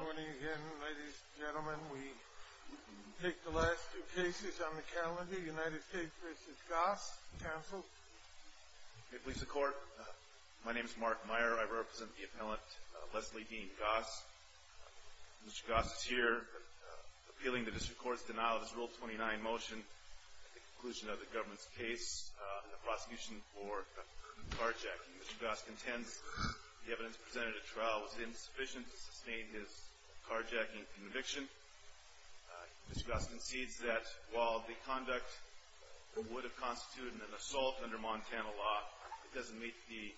Port とか it's long I am not used to the Smoker This is insane It smells bad Intercom Twitch Good morning again ladies and gentlemen We take the last two cases on the calendar United States v. Goss Counsel Please support My name is Mark Meyer I represent the appellant Leslie Dean Goss Mr. Goss is here appealing the district court's denial of his rule 29 motion at the conclusion of the government's case on the prosecution for carjacking Mr. Goss contends the evidence presented at trial was insufficient to sustain his carjacking conviction Mr. Goss concedes that while the conduct would have constituted an assault under Montana law it doesn't meet the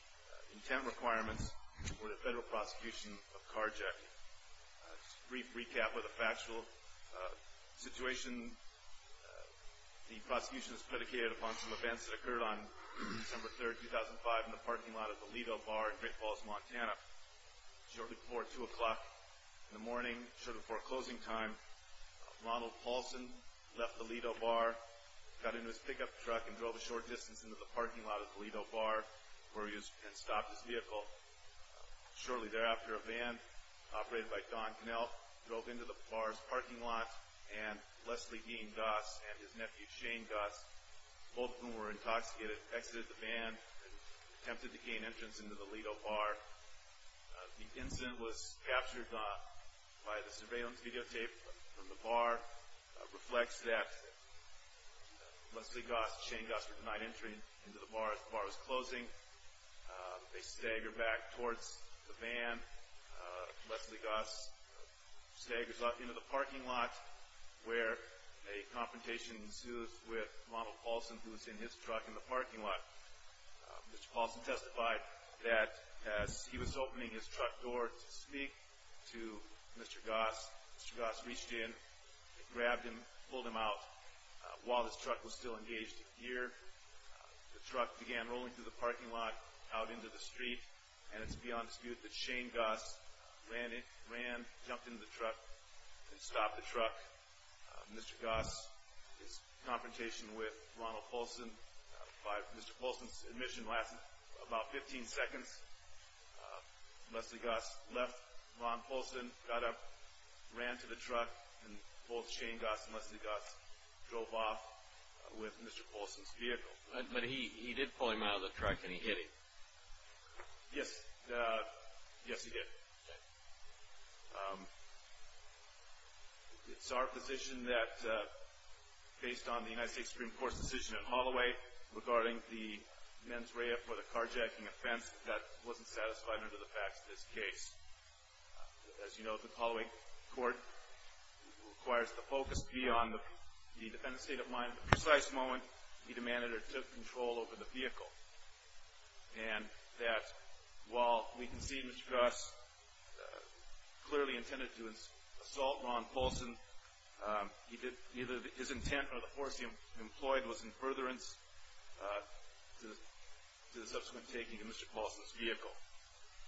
intent requirements for the federal prosecution of carjacking Just a brief recap of the factual situation The prosecution is predicated upon some events that occurred on December 3rd, 2005 in the parking lot of the Lido Bar in Great Falls, Montana Shortly before 2 o'clock in the morning shortly before closing time Ronald Paulson left the Lido Bar got into his pickup truck and drove a short distance into the parking lot of the Lido Bar where he was and stopped his vehicle Shortly thereafter a van operated by Don Connell drove into the bar's parking lot and Leslie Dean Goss and his nephew Shane Goss both of whom were intoxicated exited the van and attempted to gain entrance into the Lido Bar The incident was captured by the surveillance videotape from the bar reflects that Leslie Goss and Shane Goss were denied entry into the bar as the bar was closing They stagger back towards the van Leslie Goss staggers up into the parking lot where a confrontation ensues with Ronald Paulson who was in his truck in the parking lot Mr. Paulson testified that as he was opening his truck door to speak to Mr. Goss Mr. Goss reached in, grabbed him, pulled him out while his truck was still engaged in gear The truck began rolling through the parking lot out into the street and it's beyond dispute that Shane Goss ran jumped into the truck and stopped the truck Mr. Goss, his confrontation with Ronald Paulson Mr. Paulson's admission lasted about 15 seconds Leslie Goss left, Ronald Paulson got up ran to the truck and both Shane Goss and Leslie Goss drove off with Mr. Paulson's vehicle But he did pull him out of the truck and he hit him Yes, yes he did It's our position that based on the United States Supreme Court's decision in Holloway regarding the mens rea for the carjacking offense that wasn't satisfied under the facts of this case As you know the Holloway court requires the focus to be on the defendant's state of mind at the precise moment he demanded or took control over the vehicle and that while we can see Mr. Goss clearly intended to assault Ronald Paulson either his intent or the force he employed was in furtherance to the subsequent taking of Mr. Paulson's vehicle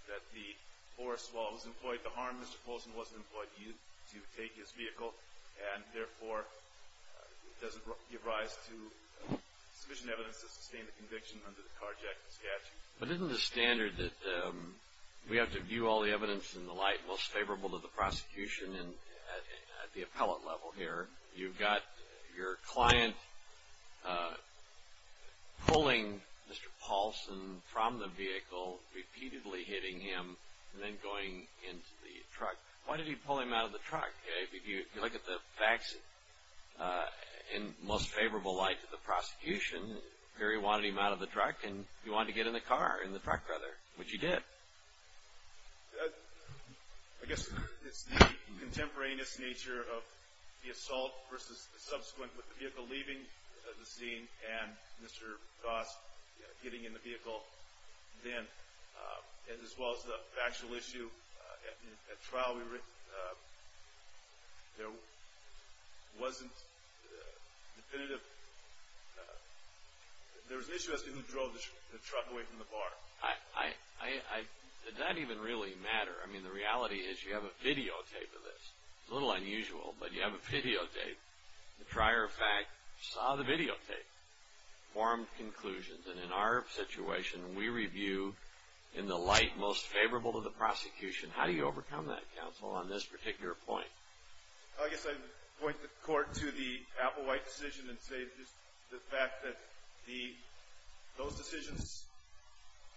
that the force, while it was employed to harm Mr. Paulson wasn't employed to take his vehicle and therefore doesn't give rise to sufficient evidence to sustain the conviction under the carjacking statute But isn't the standard that we have to view all the evidence in the light most favorable to the prosecution at the appellate level here You've got your client pulling Mr. Paulson from the vehicle repeatedly hitting him and then going into the truck Why did he pull him out of the truck? If you look at the facts in most favorable light to the prosecution Perry wanted him out of the truck and he wanted to get in the car, in the truck rather which he did I guess it's the contemporaneous nature of the assault versus the subsequent with the vehicle leaving the scene and Mr. Goss getting in the vehicle then as well as the factual issue at the trial we written there wasn't definitive there was an issue as to who drove the truck away from the bar Did that even really matter? I mean the reality is you have a videotape of this a little unusual, but you have a videotape the prior fact saw the videotape formed conclusions and in our situation we review in the light most favorable to the prosecution how do you overcome that counsel on this particular point? I guess I point the court to the Applewhite decision and say the fact that those decisions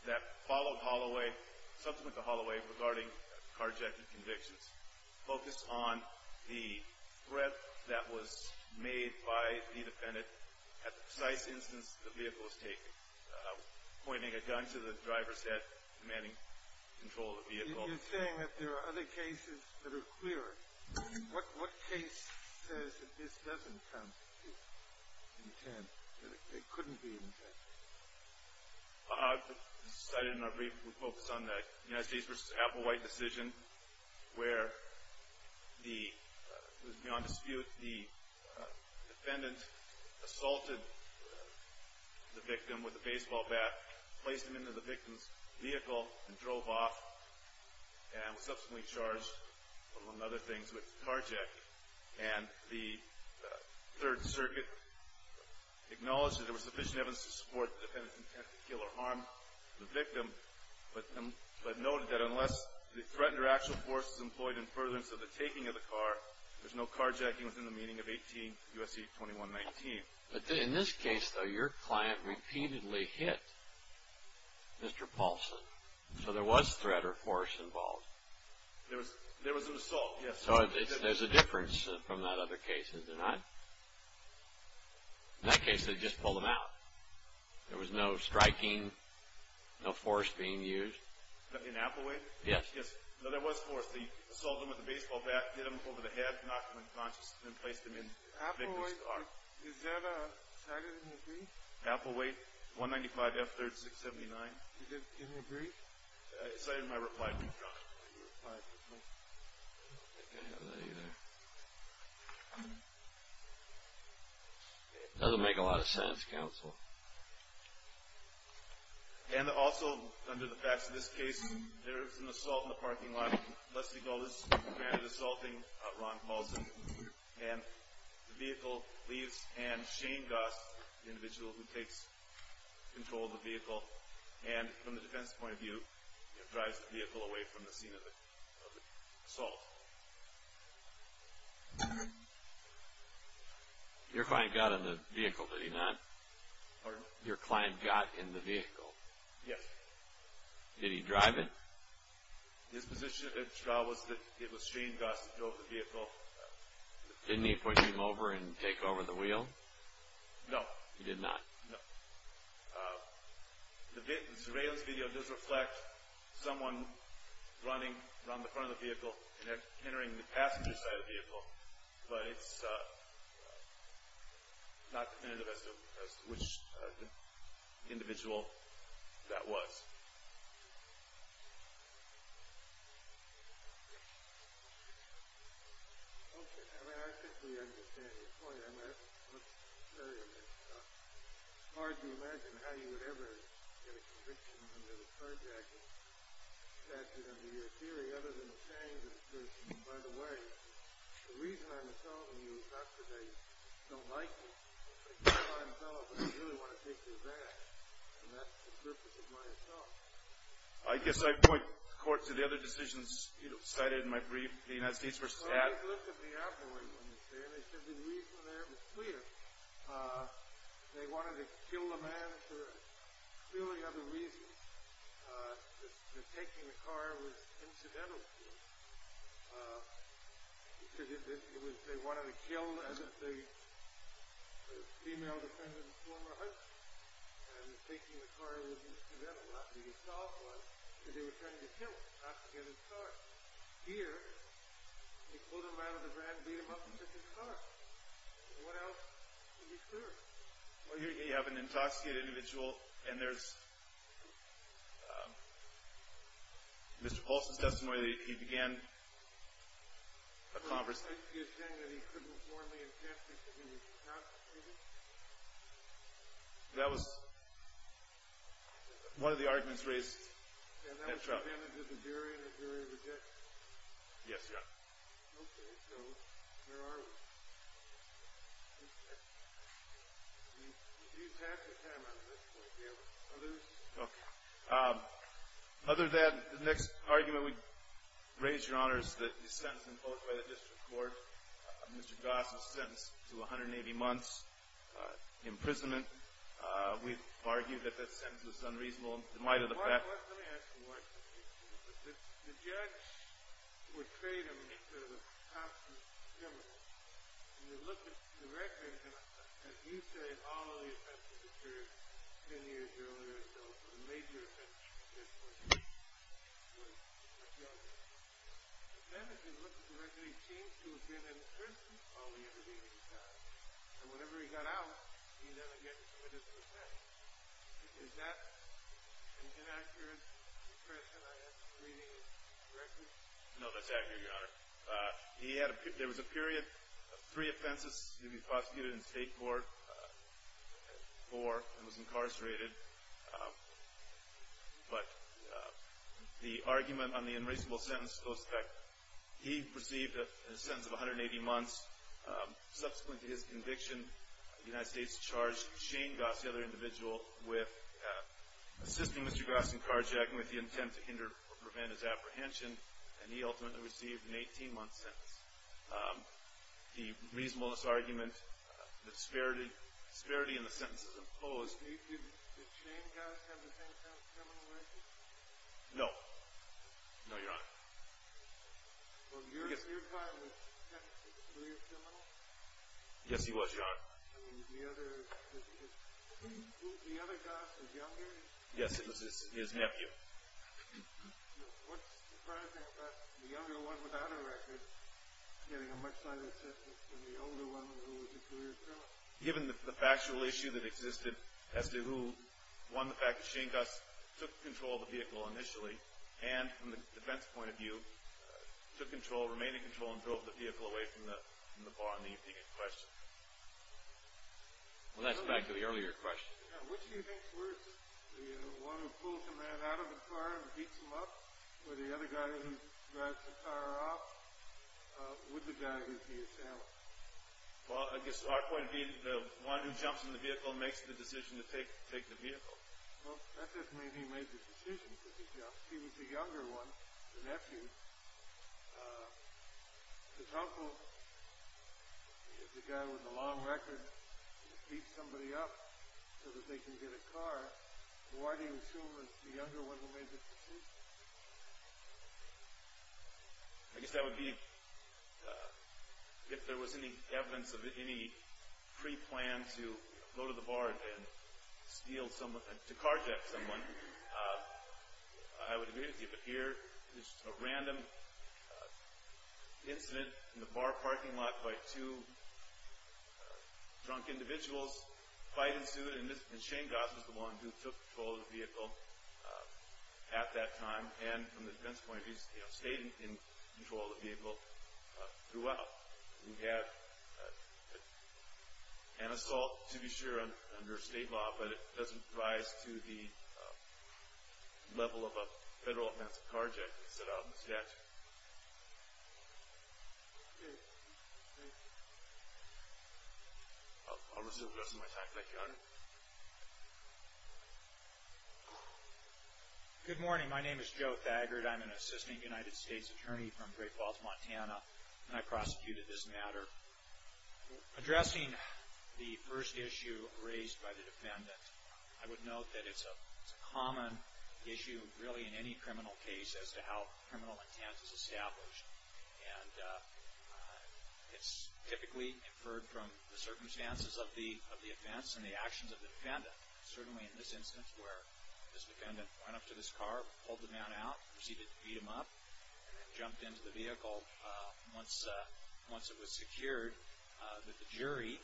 that followed Holloway subsequent to Holloway regarding carjacking convictions focused on the threat that was made by the defendant at the precise instance the vehicle was taken pointing a gun to the driver's head demanding control of the vehicle You're saying that there are other cases that are clearer what case says that this doesn't constitute intent that it couldn't be intent? I cited in our brief we focused on the United States v. Applewhite decision where the beyond dispute the defendant assaulted the victim with a baseball bat placed him into the victim's vehicle and drove off and was subsequently charged among other things with carjacking and the Third Circuit acknowledged that there was sufficient evidence to support the defendant's intent to kill or harm the victim but noted that unless the threatened or actual force is employed in furtherance of the taking of the car there's no carjacking within the meaning of U.S.C. 21-18, U.S.C. 21-19 But in this case though, your client repeatedly hit Mr. Paulson so there was threat or force involved There was an assault, yes So there's a difference from that other case, is there not? In that case, they just pulled him out There was no striking, no force being used In Applewhite? Yes No, there was force. They assaulted him with a baseball bat hit him over the head, knocked him unconscious and placed him in the victim's car Is that cited in your brief? Applewhite, 195 F3rd 679 Is that in your brief? It's not in my reply brief, John I don't think I have that either Doesn't make a lot of sense, counsel And also, under the facts of this case there was an assault in the parking lot Leslie Golders granted assaulting Ron Paulson and the vehicle leaves and Shane Goss the individual who takes control of the vehicle and from the defense point of view drives the vehicle away from the scene of the assault Your client got in the vehicle, did he not? Pardon? Your client got in the vehicle Yes Did he drive it? His position at the trial was that it was Shane Goss that drove the vehicle Didn't he push him over and take over the wheel? No He did not? No The surveillance video does reflect someone running around the front of the vehicle and entering the passenger side of the vehicle but it's not definitive as to which individual that was Okay I think we understand your point It's hard to imagine how you would ever get a conviction under the carjacking statute under your theory other than Shane's The reason I'm assaulting you is not because I don't like you I don't like myself but I really want to take you back and that's the purpose of my assault I guess I'd point the court to the other decisions cited in my brief The United States v. Att Well I looked at the afterword and they said the reason there was clear They wanted to kill the man for a clearly other reason that taking the car was incidental to him They wanted to kill the female defendant's former husband that was taking the car was incidental because they were trying to kill him not to get his car Here, they pulled him out of the van and beat him up to get his car What else would be clear? Well here you have an intoxicated individual and there's Mr. Paulson's testimony that he began a conversation You're saying that he could have warmly attested that he was intoxicated? That was one of the arguments raised in that trial And that was commended to the jury Yes, Your Honor Okay, so where are we? We've used half the time on this point Okay Other than the next argument we'd raise, Your Honor The sentence imposed by the District Court Mr. Goss was sentenced to 180 months imprisonment We've argued that that sentence was unreasonable in light of the fact Let me ask you one thing The judge portrayed him as sort of a conscious criminal and you look at the record and you say all of the offenses that were ten years earlier were major offenses and this was with the judge The sentence was literally changed to a period of imprisonment all the intervening time and whenever he got out he'd have to get a dismissal sentence Is that an inaccurate impression I have reading the record? No, that's accurate, Your Honor There was a period of three offenses he'd be prosecuted in state court four, and was incarcerated The argument on the unreasonable sentence goes to the fact he received a sentence of 180 months subsequent to his conviction the United States charged Shane Goss, the other individual with assisting Mr. Goss in carjacking with the intent to hinder or prevent his apprehension and he ultimately received an 18 month sentence The reasonableness argument the disparity in the sentences imposed Did Shane Goss have the same criminal record? No. No, Your Honor Your client was a career criminal? Yes, he was, Your Honor The other Goss was younger? Yes, it was his nephew What's surprising about the younger one without a record getting a much lighter sentence than the older one who was a career criminal? Given the factual issue that existed as to who won the fact that Shane Goss took control of the vehicle initially and from the defense point of view took control, remained in control, and drove the vehicle away from the bar on the evening of questioning Well, that's back to the earlier question Which do you think works? The one who pulls the man out of the car and heats him up? Or the other guy who drives the car off? Would the guy who's the assailant? Well, I guess our point would be the one who jumps in the vehicle makes the decision to take the vehicle Well, that doesn't mean he made the decision to jump. He was the younger one the nephew It's helpful if the guy with the long record heats somebody up so that they can get a car. Why do you assume it's the younger one who made the decision? I guess that would be if there was any evidence of any pre-plan to go to the bar and steal someone to carjack someone I would agree with you but here, it's just a random incident in the bar parking lot by two drunk individuals fight ensued and Shane Goss was the one who took control of the vehicle at that time and from the defense point of view he stayed in control of the vehicle throughout we have an assault to be sure under state law but it doesn't rise to the level of a federal carjack Good morning, my name is Joe Thagard I'm an assistant United States attorney from Great Falls, Montana and I prosecuted this matter addressing the first issue raised by the defendant I would note that it's a criminal case as to how the defendant is charged I would note that it's a common issue as to how criminal intent is established and it's typically inferred from the circumstances of the offense and the actions of the defendant certainly in this instance where this defendant went up to this car pulled the man out, proceeded to beat him up jumped into the vehicle once it was secured that the jury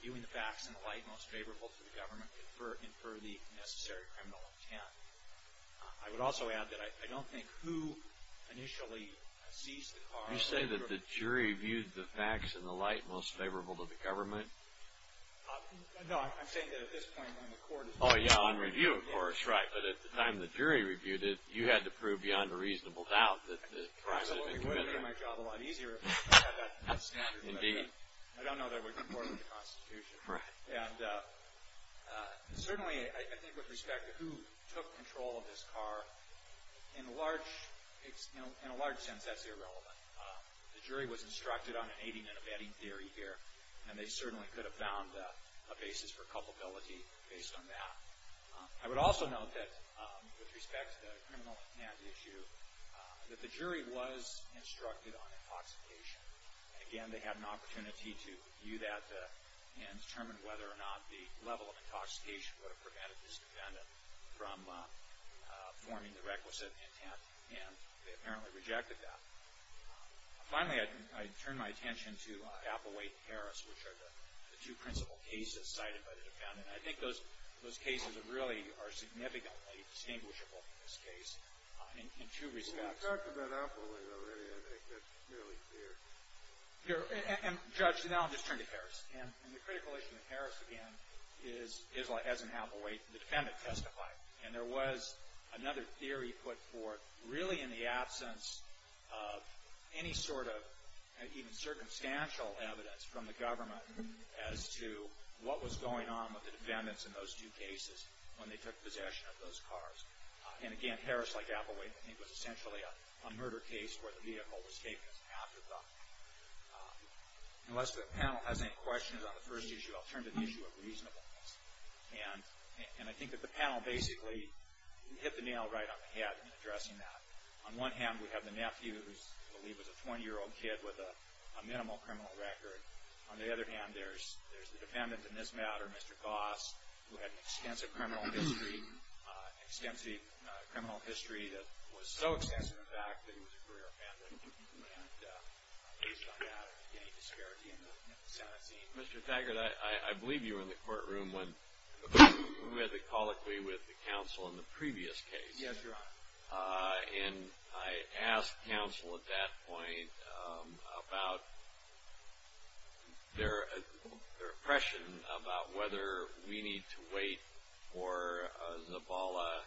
viewing the facts in the light most favorable to the government infer the necessary criminal intent I would also add that I don't think who initially seized the car You say that the jury viewed the facts in the light most favorable to the government? No, I'm saying that at this point when the court is reviewing Of course, right, but at the time the jury reviewed it, you had to prove beyond a reasonable doubt that the crime had been committed I would have made my job a lot easier if I had that standard, but I don't know that would be part of the Constitution Certainly I think with respect to who took control of this car in a large sense that's irrelevant The jury was instructed on an aiding and abetting theory here and they certainly could have found a basis for culpability based on that I would also note that with respect to the criminal intent issue that the jury was instructed on intoxication Again, they had an opportunity to view that and determine whether or not the level of intoxication would have prevented this defendant from forming the requisite intent, and they apparently rejected that Finally, I turn my attention to Applewade and Harris, which are the two principal cases cited by the defendant I think those cases really are significantly distinguishable in this case in two respects I think that's really clear Judge, now I'll just turn to Harris And the critical issue with Harris, again is, as in Applewade the defendant testified, and there was another theory put forth really in the absence of any sort of even circumstantial evidence from the government as to what was going on with the defendants in those two cases when they took possession of those cars And again, Harris, like Applewade, I think was essentially a murder case where the vehicle was taken as an afterthought Unless the panel has any questions on the first issue I'll turn to the issue of reasonableness And I think that the panel basically hit the nail right on the head in addressing that On one hand we have the nephew, who I believe was a 20-year-old kid with a minimal criminal record. On the other hand there's the defendant in this matter Mr. Goss, who had an extensive criminal history an extensive criminal history that was so extensive in fact that he was a career defendant based on that Mr. Taggart, I believe you were in the courtroom when we had the colloquy with the counsel in the previous case Yes, Your Honor And I asked counsel at that point about their their impression about whether we need to wait for Zabala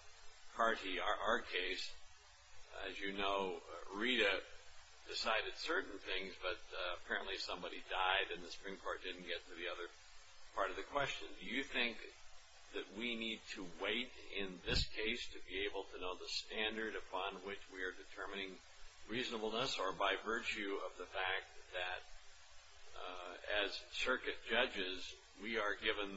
Carty, our case As you know Rita decided certain things but apparently somebody died and the Supreme Court didn't get to the other part of the question. Do you think that we need to wait in this case to be able to know the standard upon which we are determining reasonableness or by virtue of the fact that as circuit judges we are given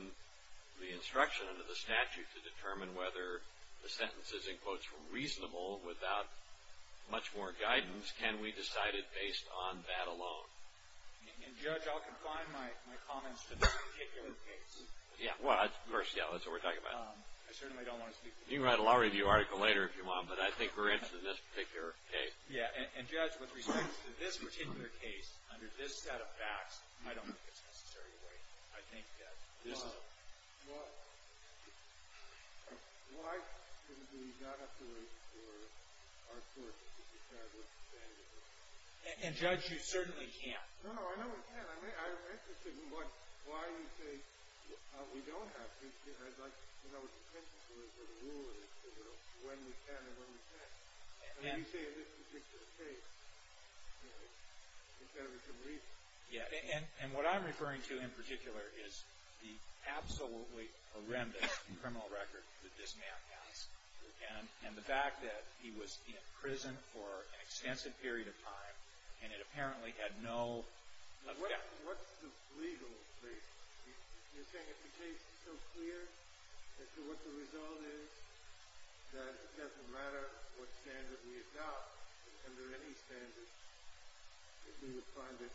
the instruction under the statute to determine whether the sentences in quotes were reasonable without much more guidance can we decide it based on that alone? Judge, I'll confine my comments to this particular case. Of course, that's what we're talking about. You can write a law review article later if you want, but I think we're interested in this particular case. Yeah, and Judge, with respect to this particular case under this set of facts, I don't think it's necessary to wait. I think that this is a law. Why shouldn't we not have to wait for our court to decide what the standard is? And Judge, you certainly can't. No, no, I know we can't. I mean, I'm interested in what, why you say we don't have to. I'd like to know what your opinion is on when we can and when we can't. I mean, you say this particular case is better than some reason. Yeah, and what I'm referring to in absolutely horrendous criminal record that this man has, and the fact that he was in prison for an extensive period of time, and it apparently had no... What's the legal case? You're saying if the case is so clear as to what the result is, that it doesn't matter what standard we adopt, under any standard, that we would find it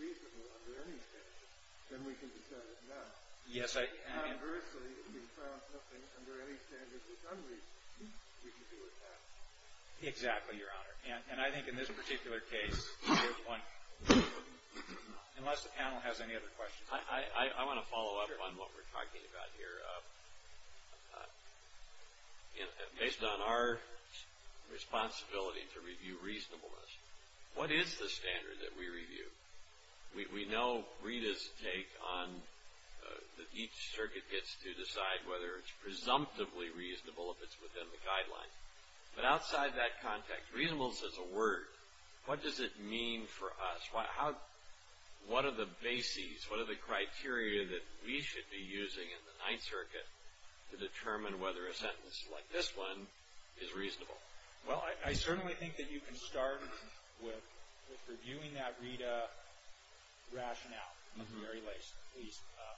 reasonable under any standard, then we can decide it now. Yes, I... Conversely, if we found nothing under any standard that's unreasonable, we can do it now. Exactly, Your Honor. And I think in this particular case, there's one... Unless the panel has any other questions. I want to follow up on what we're talking about here. Based on our responsibility to review reasonableness, what is the standard that we review? We know Rita's take on that each circuit gets to decide whether it's presumptively reasonable if it's within the guidelines. But outside that context, reasonableness is a word. What does it mean for us? What are the bases, what are the criteria that we should be using in the Ninth Circuit to determine whether a sentence like this one is reasonable? Well, I certainly think that you can start with reviewing that Rita rationale at the very least.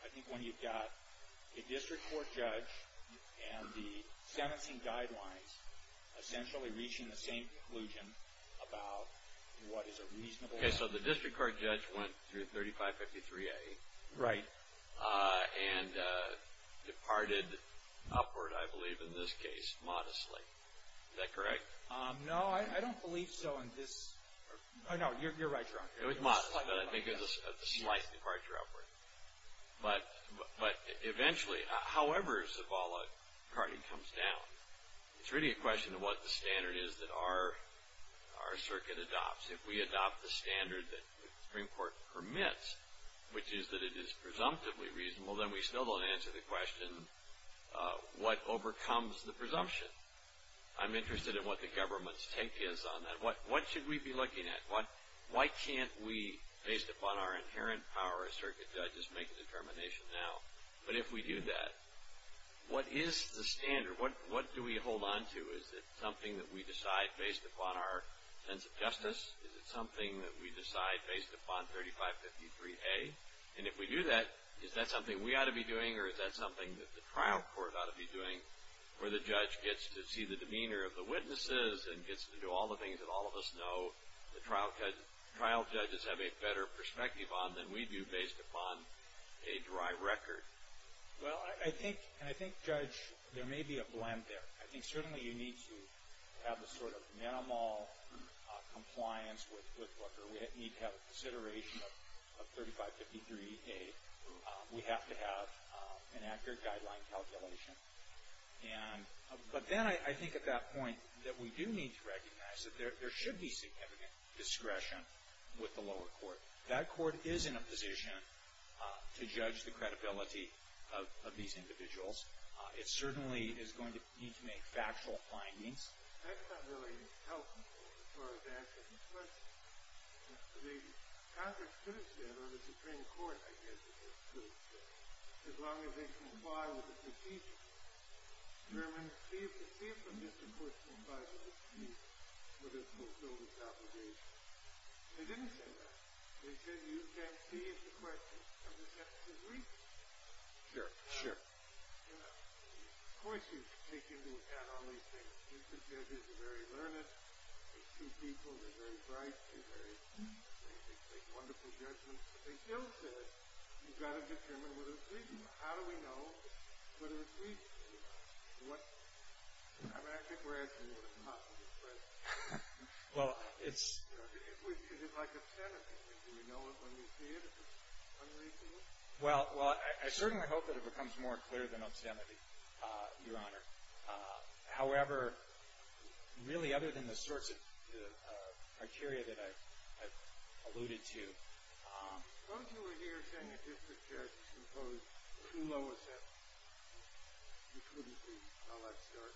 I think when you've got a district court judge and the sentencing guidelines essentially reaching the same conclusion about what is a reasonable... Okay, so the district court judge went through 3553A... Right. And departed upward, I believe, in this case modestly. Is that correct? No, I don't believe so in this... No, you're right, Your Honor. It was modestly, but I think it was a slight departure upward. But eventually, however Zavala party comes down, it's really a question of what the standard is that our circuit adopts. If we adopt the standard that the Supreme Court permits, which is that it is presumptively reasonable, then we still don't answer the question what overcomes the presumption. I'm interested in what the government's take is on that. What should we be looking at? Why can't we, based upon our inherent power as circuit judges, make a determination now? But if we do that, what is the standard? What do we hold on to? Is it something that we decide based upon our sense of justice? Is it something that we decide based upon 3553A? And if we do that, is that something we ought to be doing or is that something that the trial court ought to be doing where the judge gets to see the demeanor of the witnesses and gets to do all the things that all of us know the trial judges have a better perspective on than we do based upon a dry record? Well, I think Judge, there may be a blend there. I think certainly you need to have a sort of minimal compliance with Booker. We need to have a consideration of 3553A. We have to have an accurate guideline calculation. And, but then I think at that point that we do need to recognize that there should be significant discretion with the lower court. That court is in a position to judge the credibility of these individuals. It certainly is going to need to make factual findings. That's not really helpful as far as that goes, but the Congress could have said, or the Supreme Court, I guess they could have said, as long as they comply with the critique of the Germans, see if the misapportioning by the critique would have fulfilled its obligation. They didn't say that. They said, you can't see if the question is 100% conclusive. Sure, sure. You know, of course you take into account all these things. The judges are very learned. They're true people. They're very bright. They make wonderful judgments, but they still say you've got to determine whether it's reasonable. How do we know whether it's reasonable? What I mean, I think we're asking what is possible to say. Is it like obscenity? Do we know it when we see it? Is it unreasonable? Well, I certainly hope that it becomes more clear than obscenity, Your Honor. However, really other than the sorts of criteria that I Don't you agree that the district judge is too low a set? You couldn't be. I'll let you start.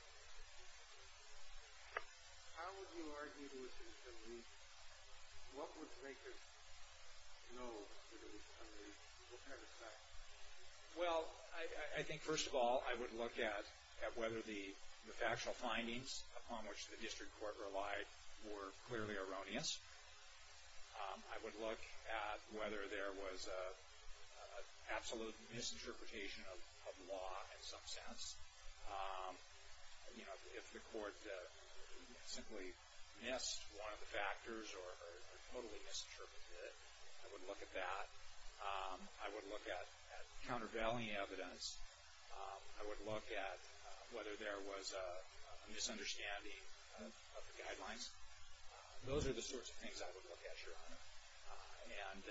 How would you argue that it's a leak? What would make it a leak? Well, I think first of all, I would look at whether the factual findings upon which the district court relied were clearly erroneous. I would look at whether there was an absolute misinterpretation of law in some sense. If the court simply missed one of the factors or totally misinterpreted it, I would look at that. I would look at countervailing evidence. I would look at whether there was a misunderstanding of the guidelines. Those are the sorts of things I would look at, Your Honor. And,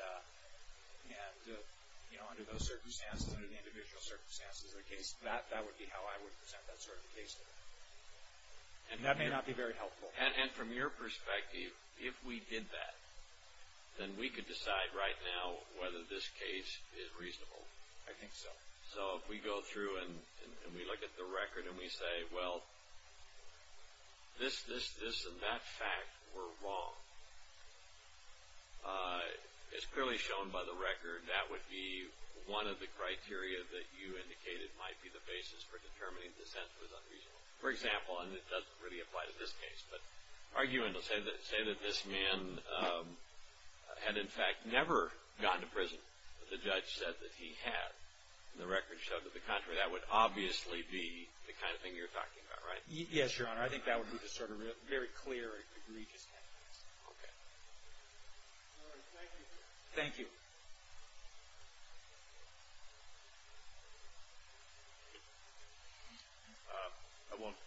you know, under those circumstances, under the individual circumstances of the case, that would be how I would present that sort of case. And that may not be very helpful. And from your perspective, if we did that, then we could decide right now whether this case is reasonable. I think so. So, if we go through and we look at the record and we say, well, this, this, this, and that fact were wrong, it's clearly shown by the record that would be one of the criteria that you indicated might be the basis for determining dissent was unreasonable. For example, and it doesn't really apply to this case, but arguing to say that this man had, in fact, never gone to prison, but the judge said that he had, and the record showed that the contrary, that would obviously be the kind of thing you're talking about, right? Yes, Your Honor. I think that would be the sort of very clear and egregious case. Okay. Thank you. I won't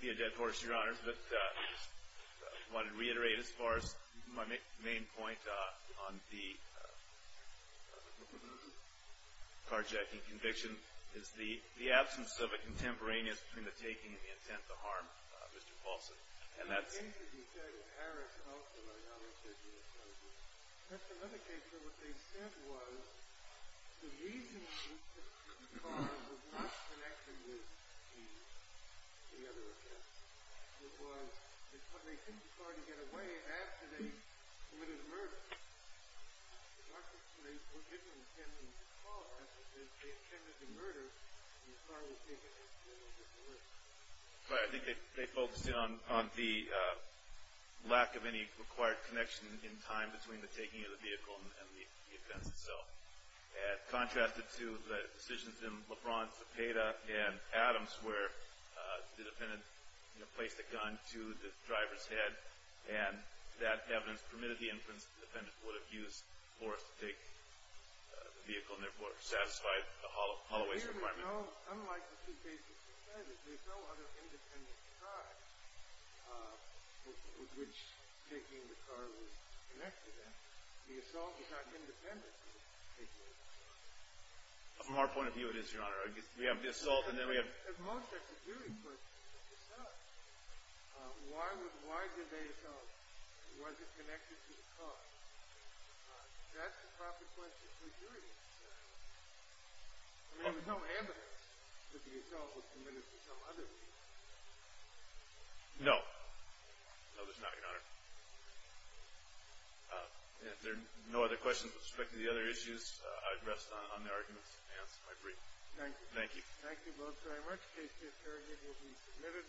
be a dead horse, Your Honor, but I wanted to reiterate as far as my main point on the carjacking conviction is the absence of a contemporaneous between the taking and the intent to harm Mr. Paulson. And that's... Right. I think they focused in on the lack of any required connection in time between the taking of the vehicle and the offense itself. Contrasted to the decisions in Lebron, Cepeda, and Adams, where the defendant placed a gun to the driver's head and that evidence permitted the inference that the defendant would have used force to take the vehicle and therefore satisfied the hollow waste requirement. From our point of view, it is, Your Honor. We have the assault and then we have... There was no evidence that the assault was committed to some other vehicle. No. No, there's not, Your Honor. If there are no other questions with respect to the other issues, I'd rest on the arguments and answer my brief. Thank you. Thank you both very much. Case to interrogate will be submitted.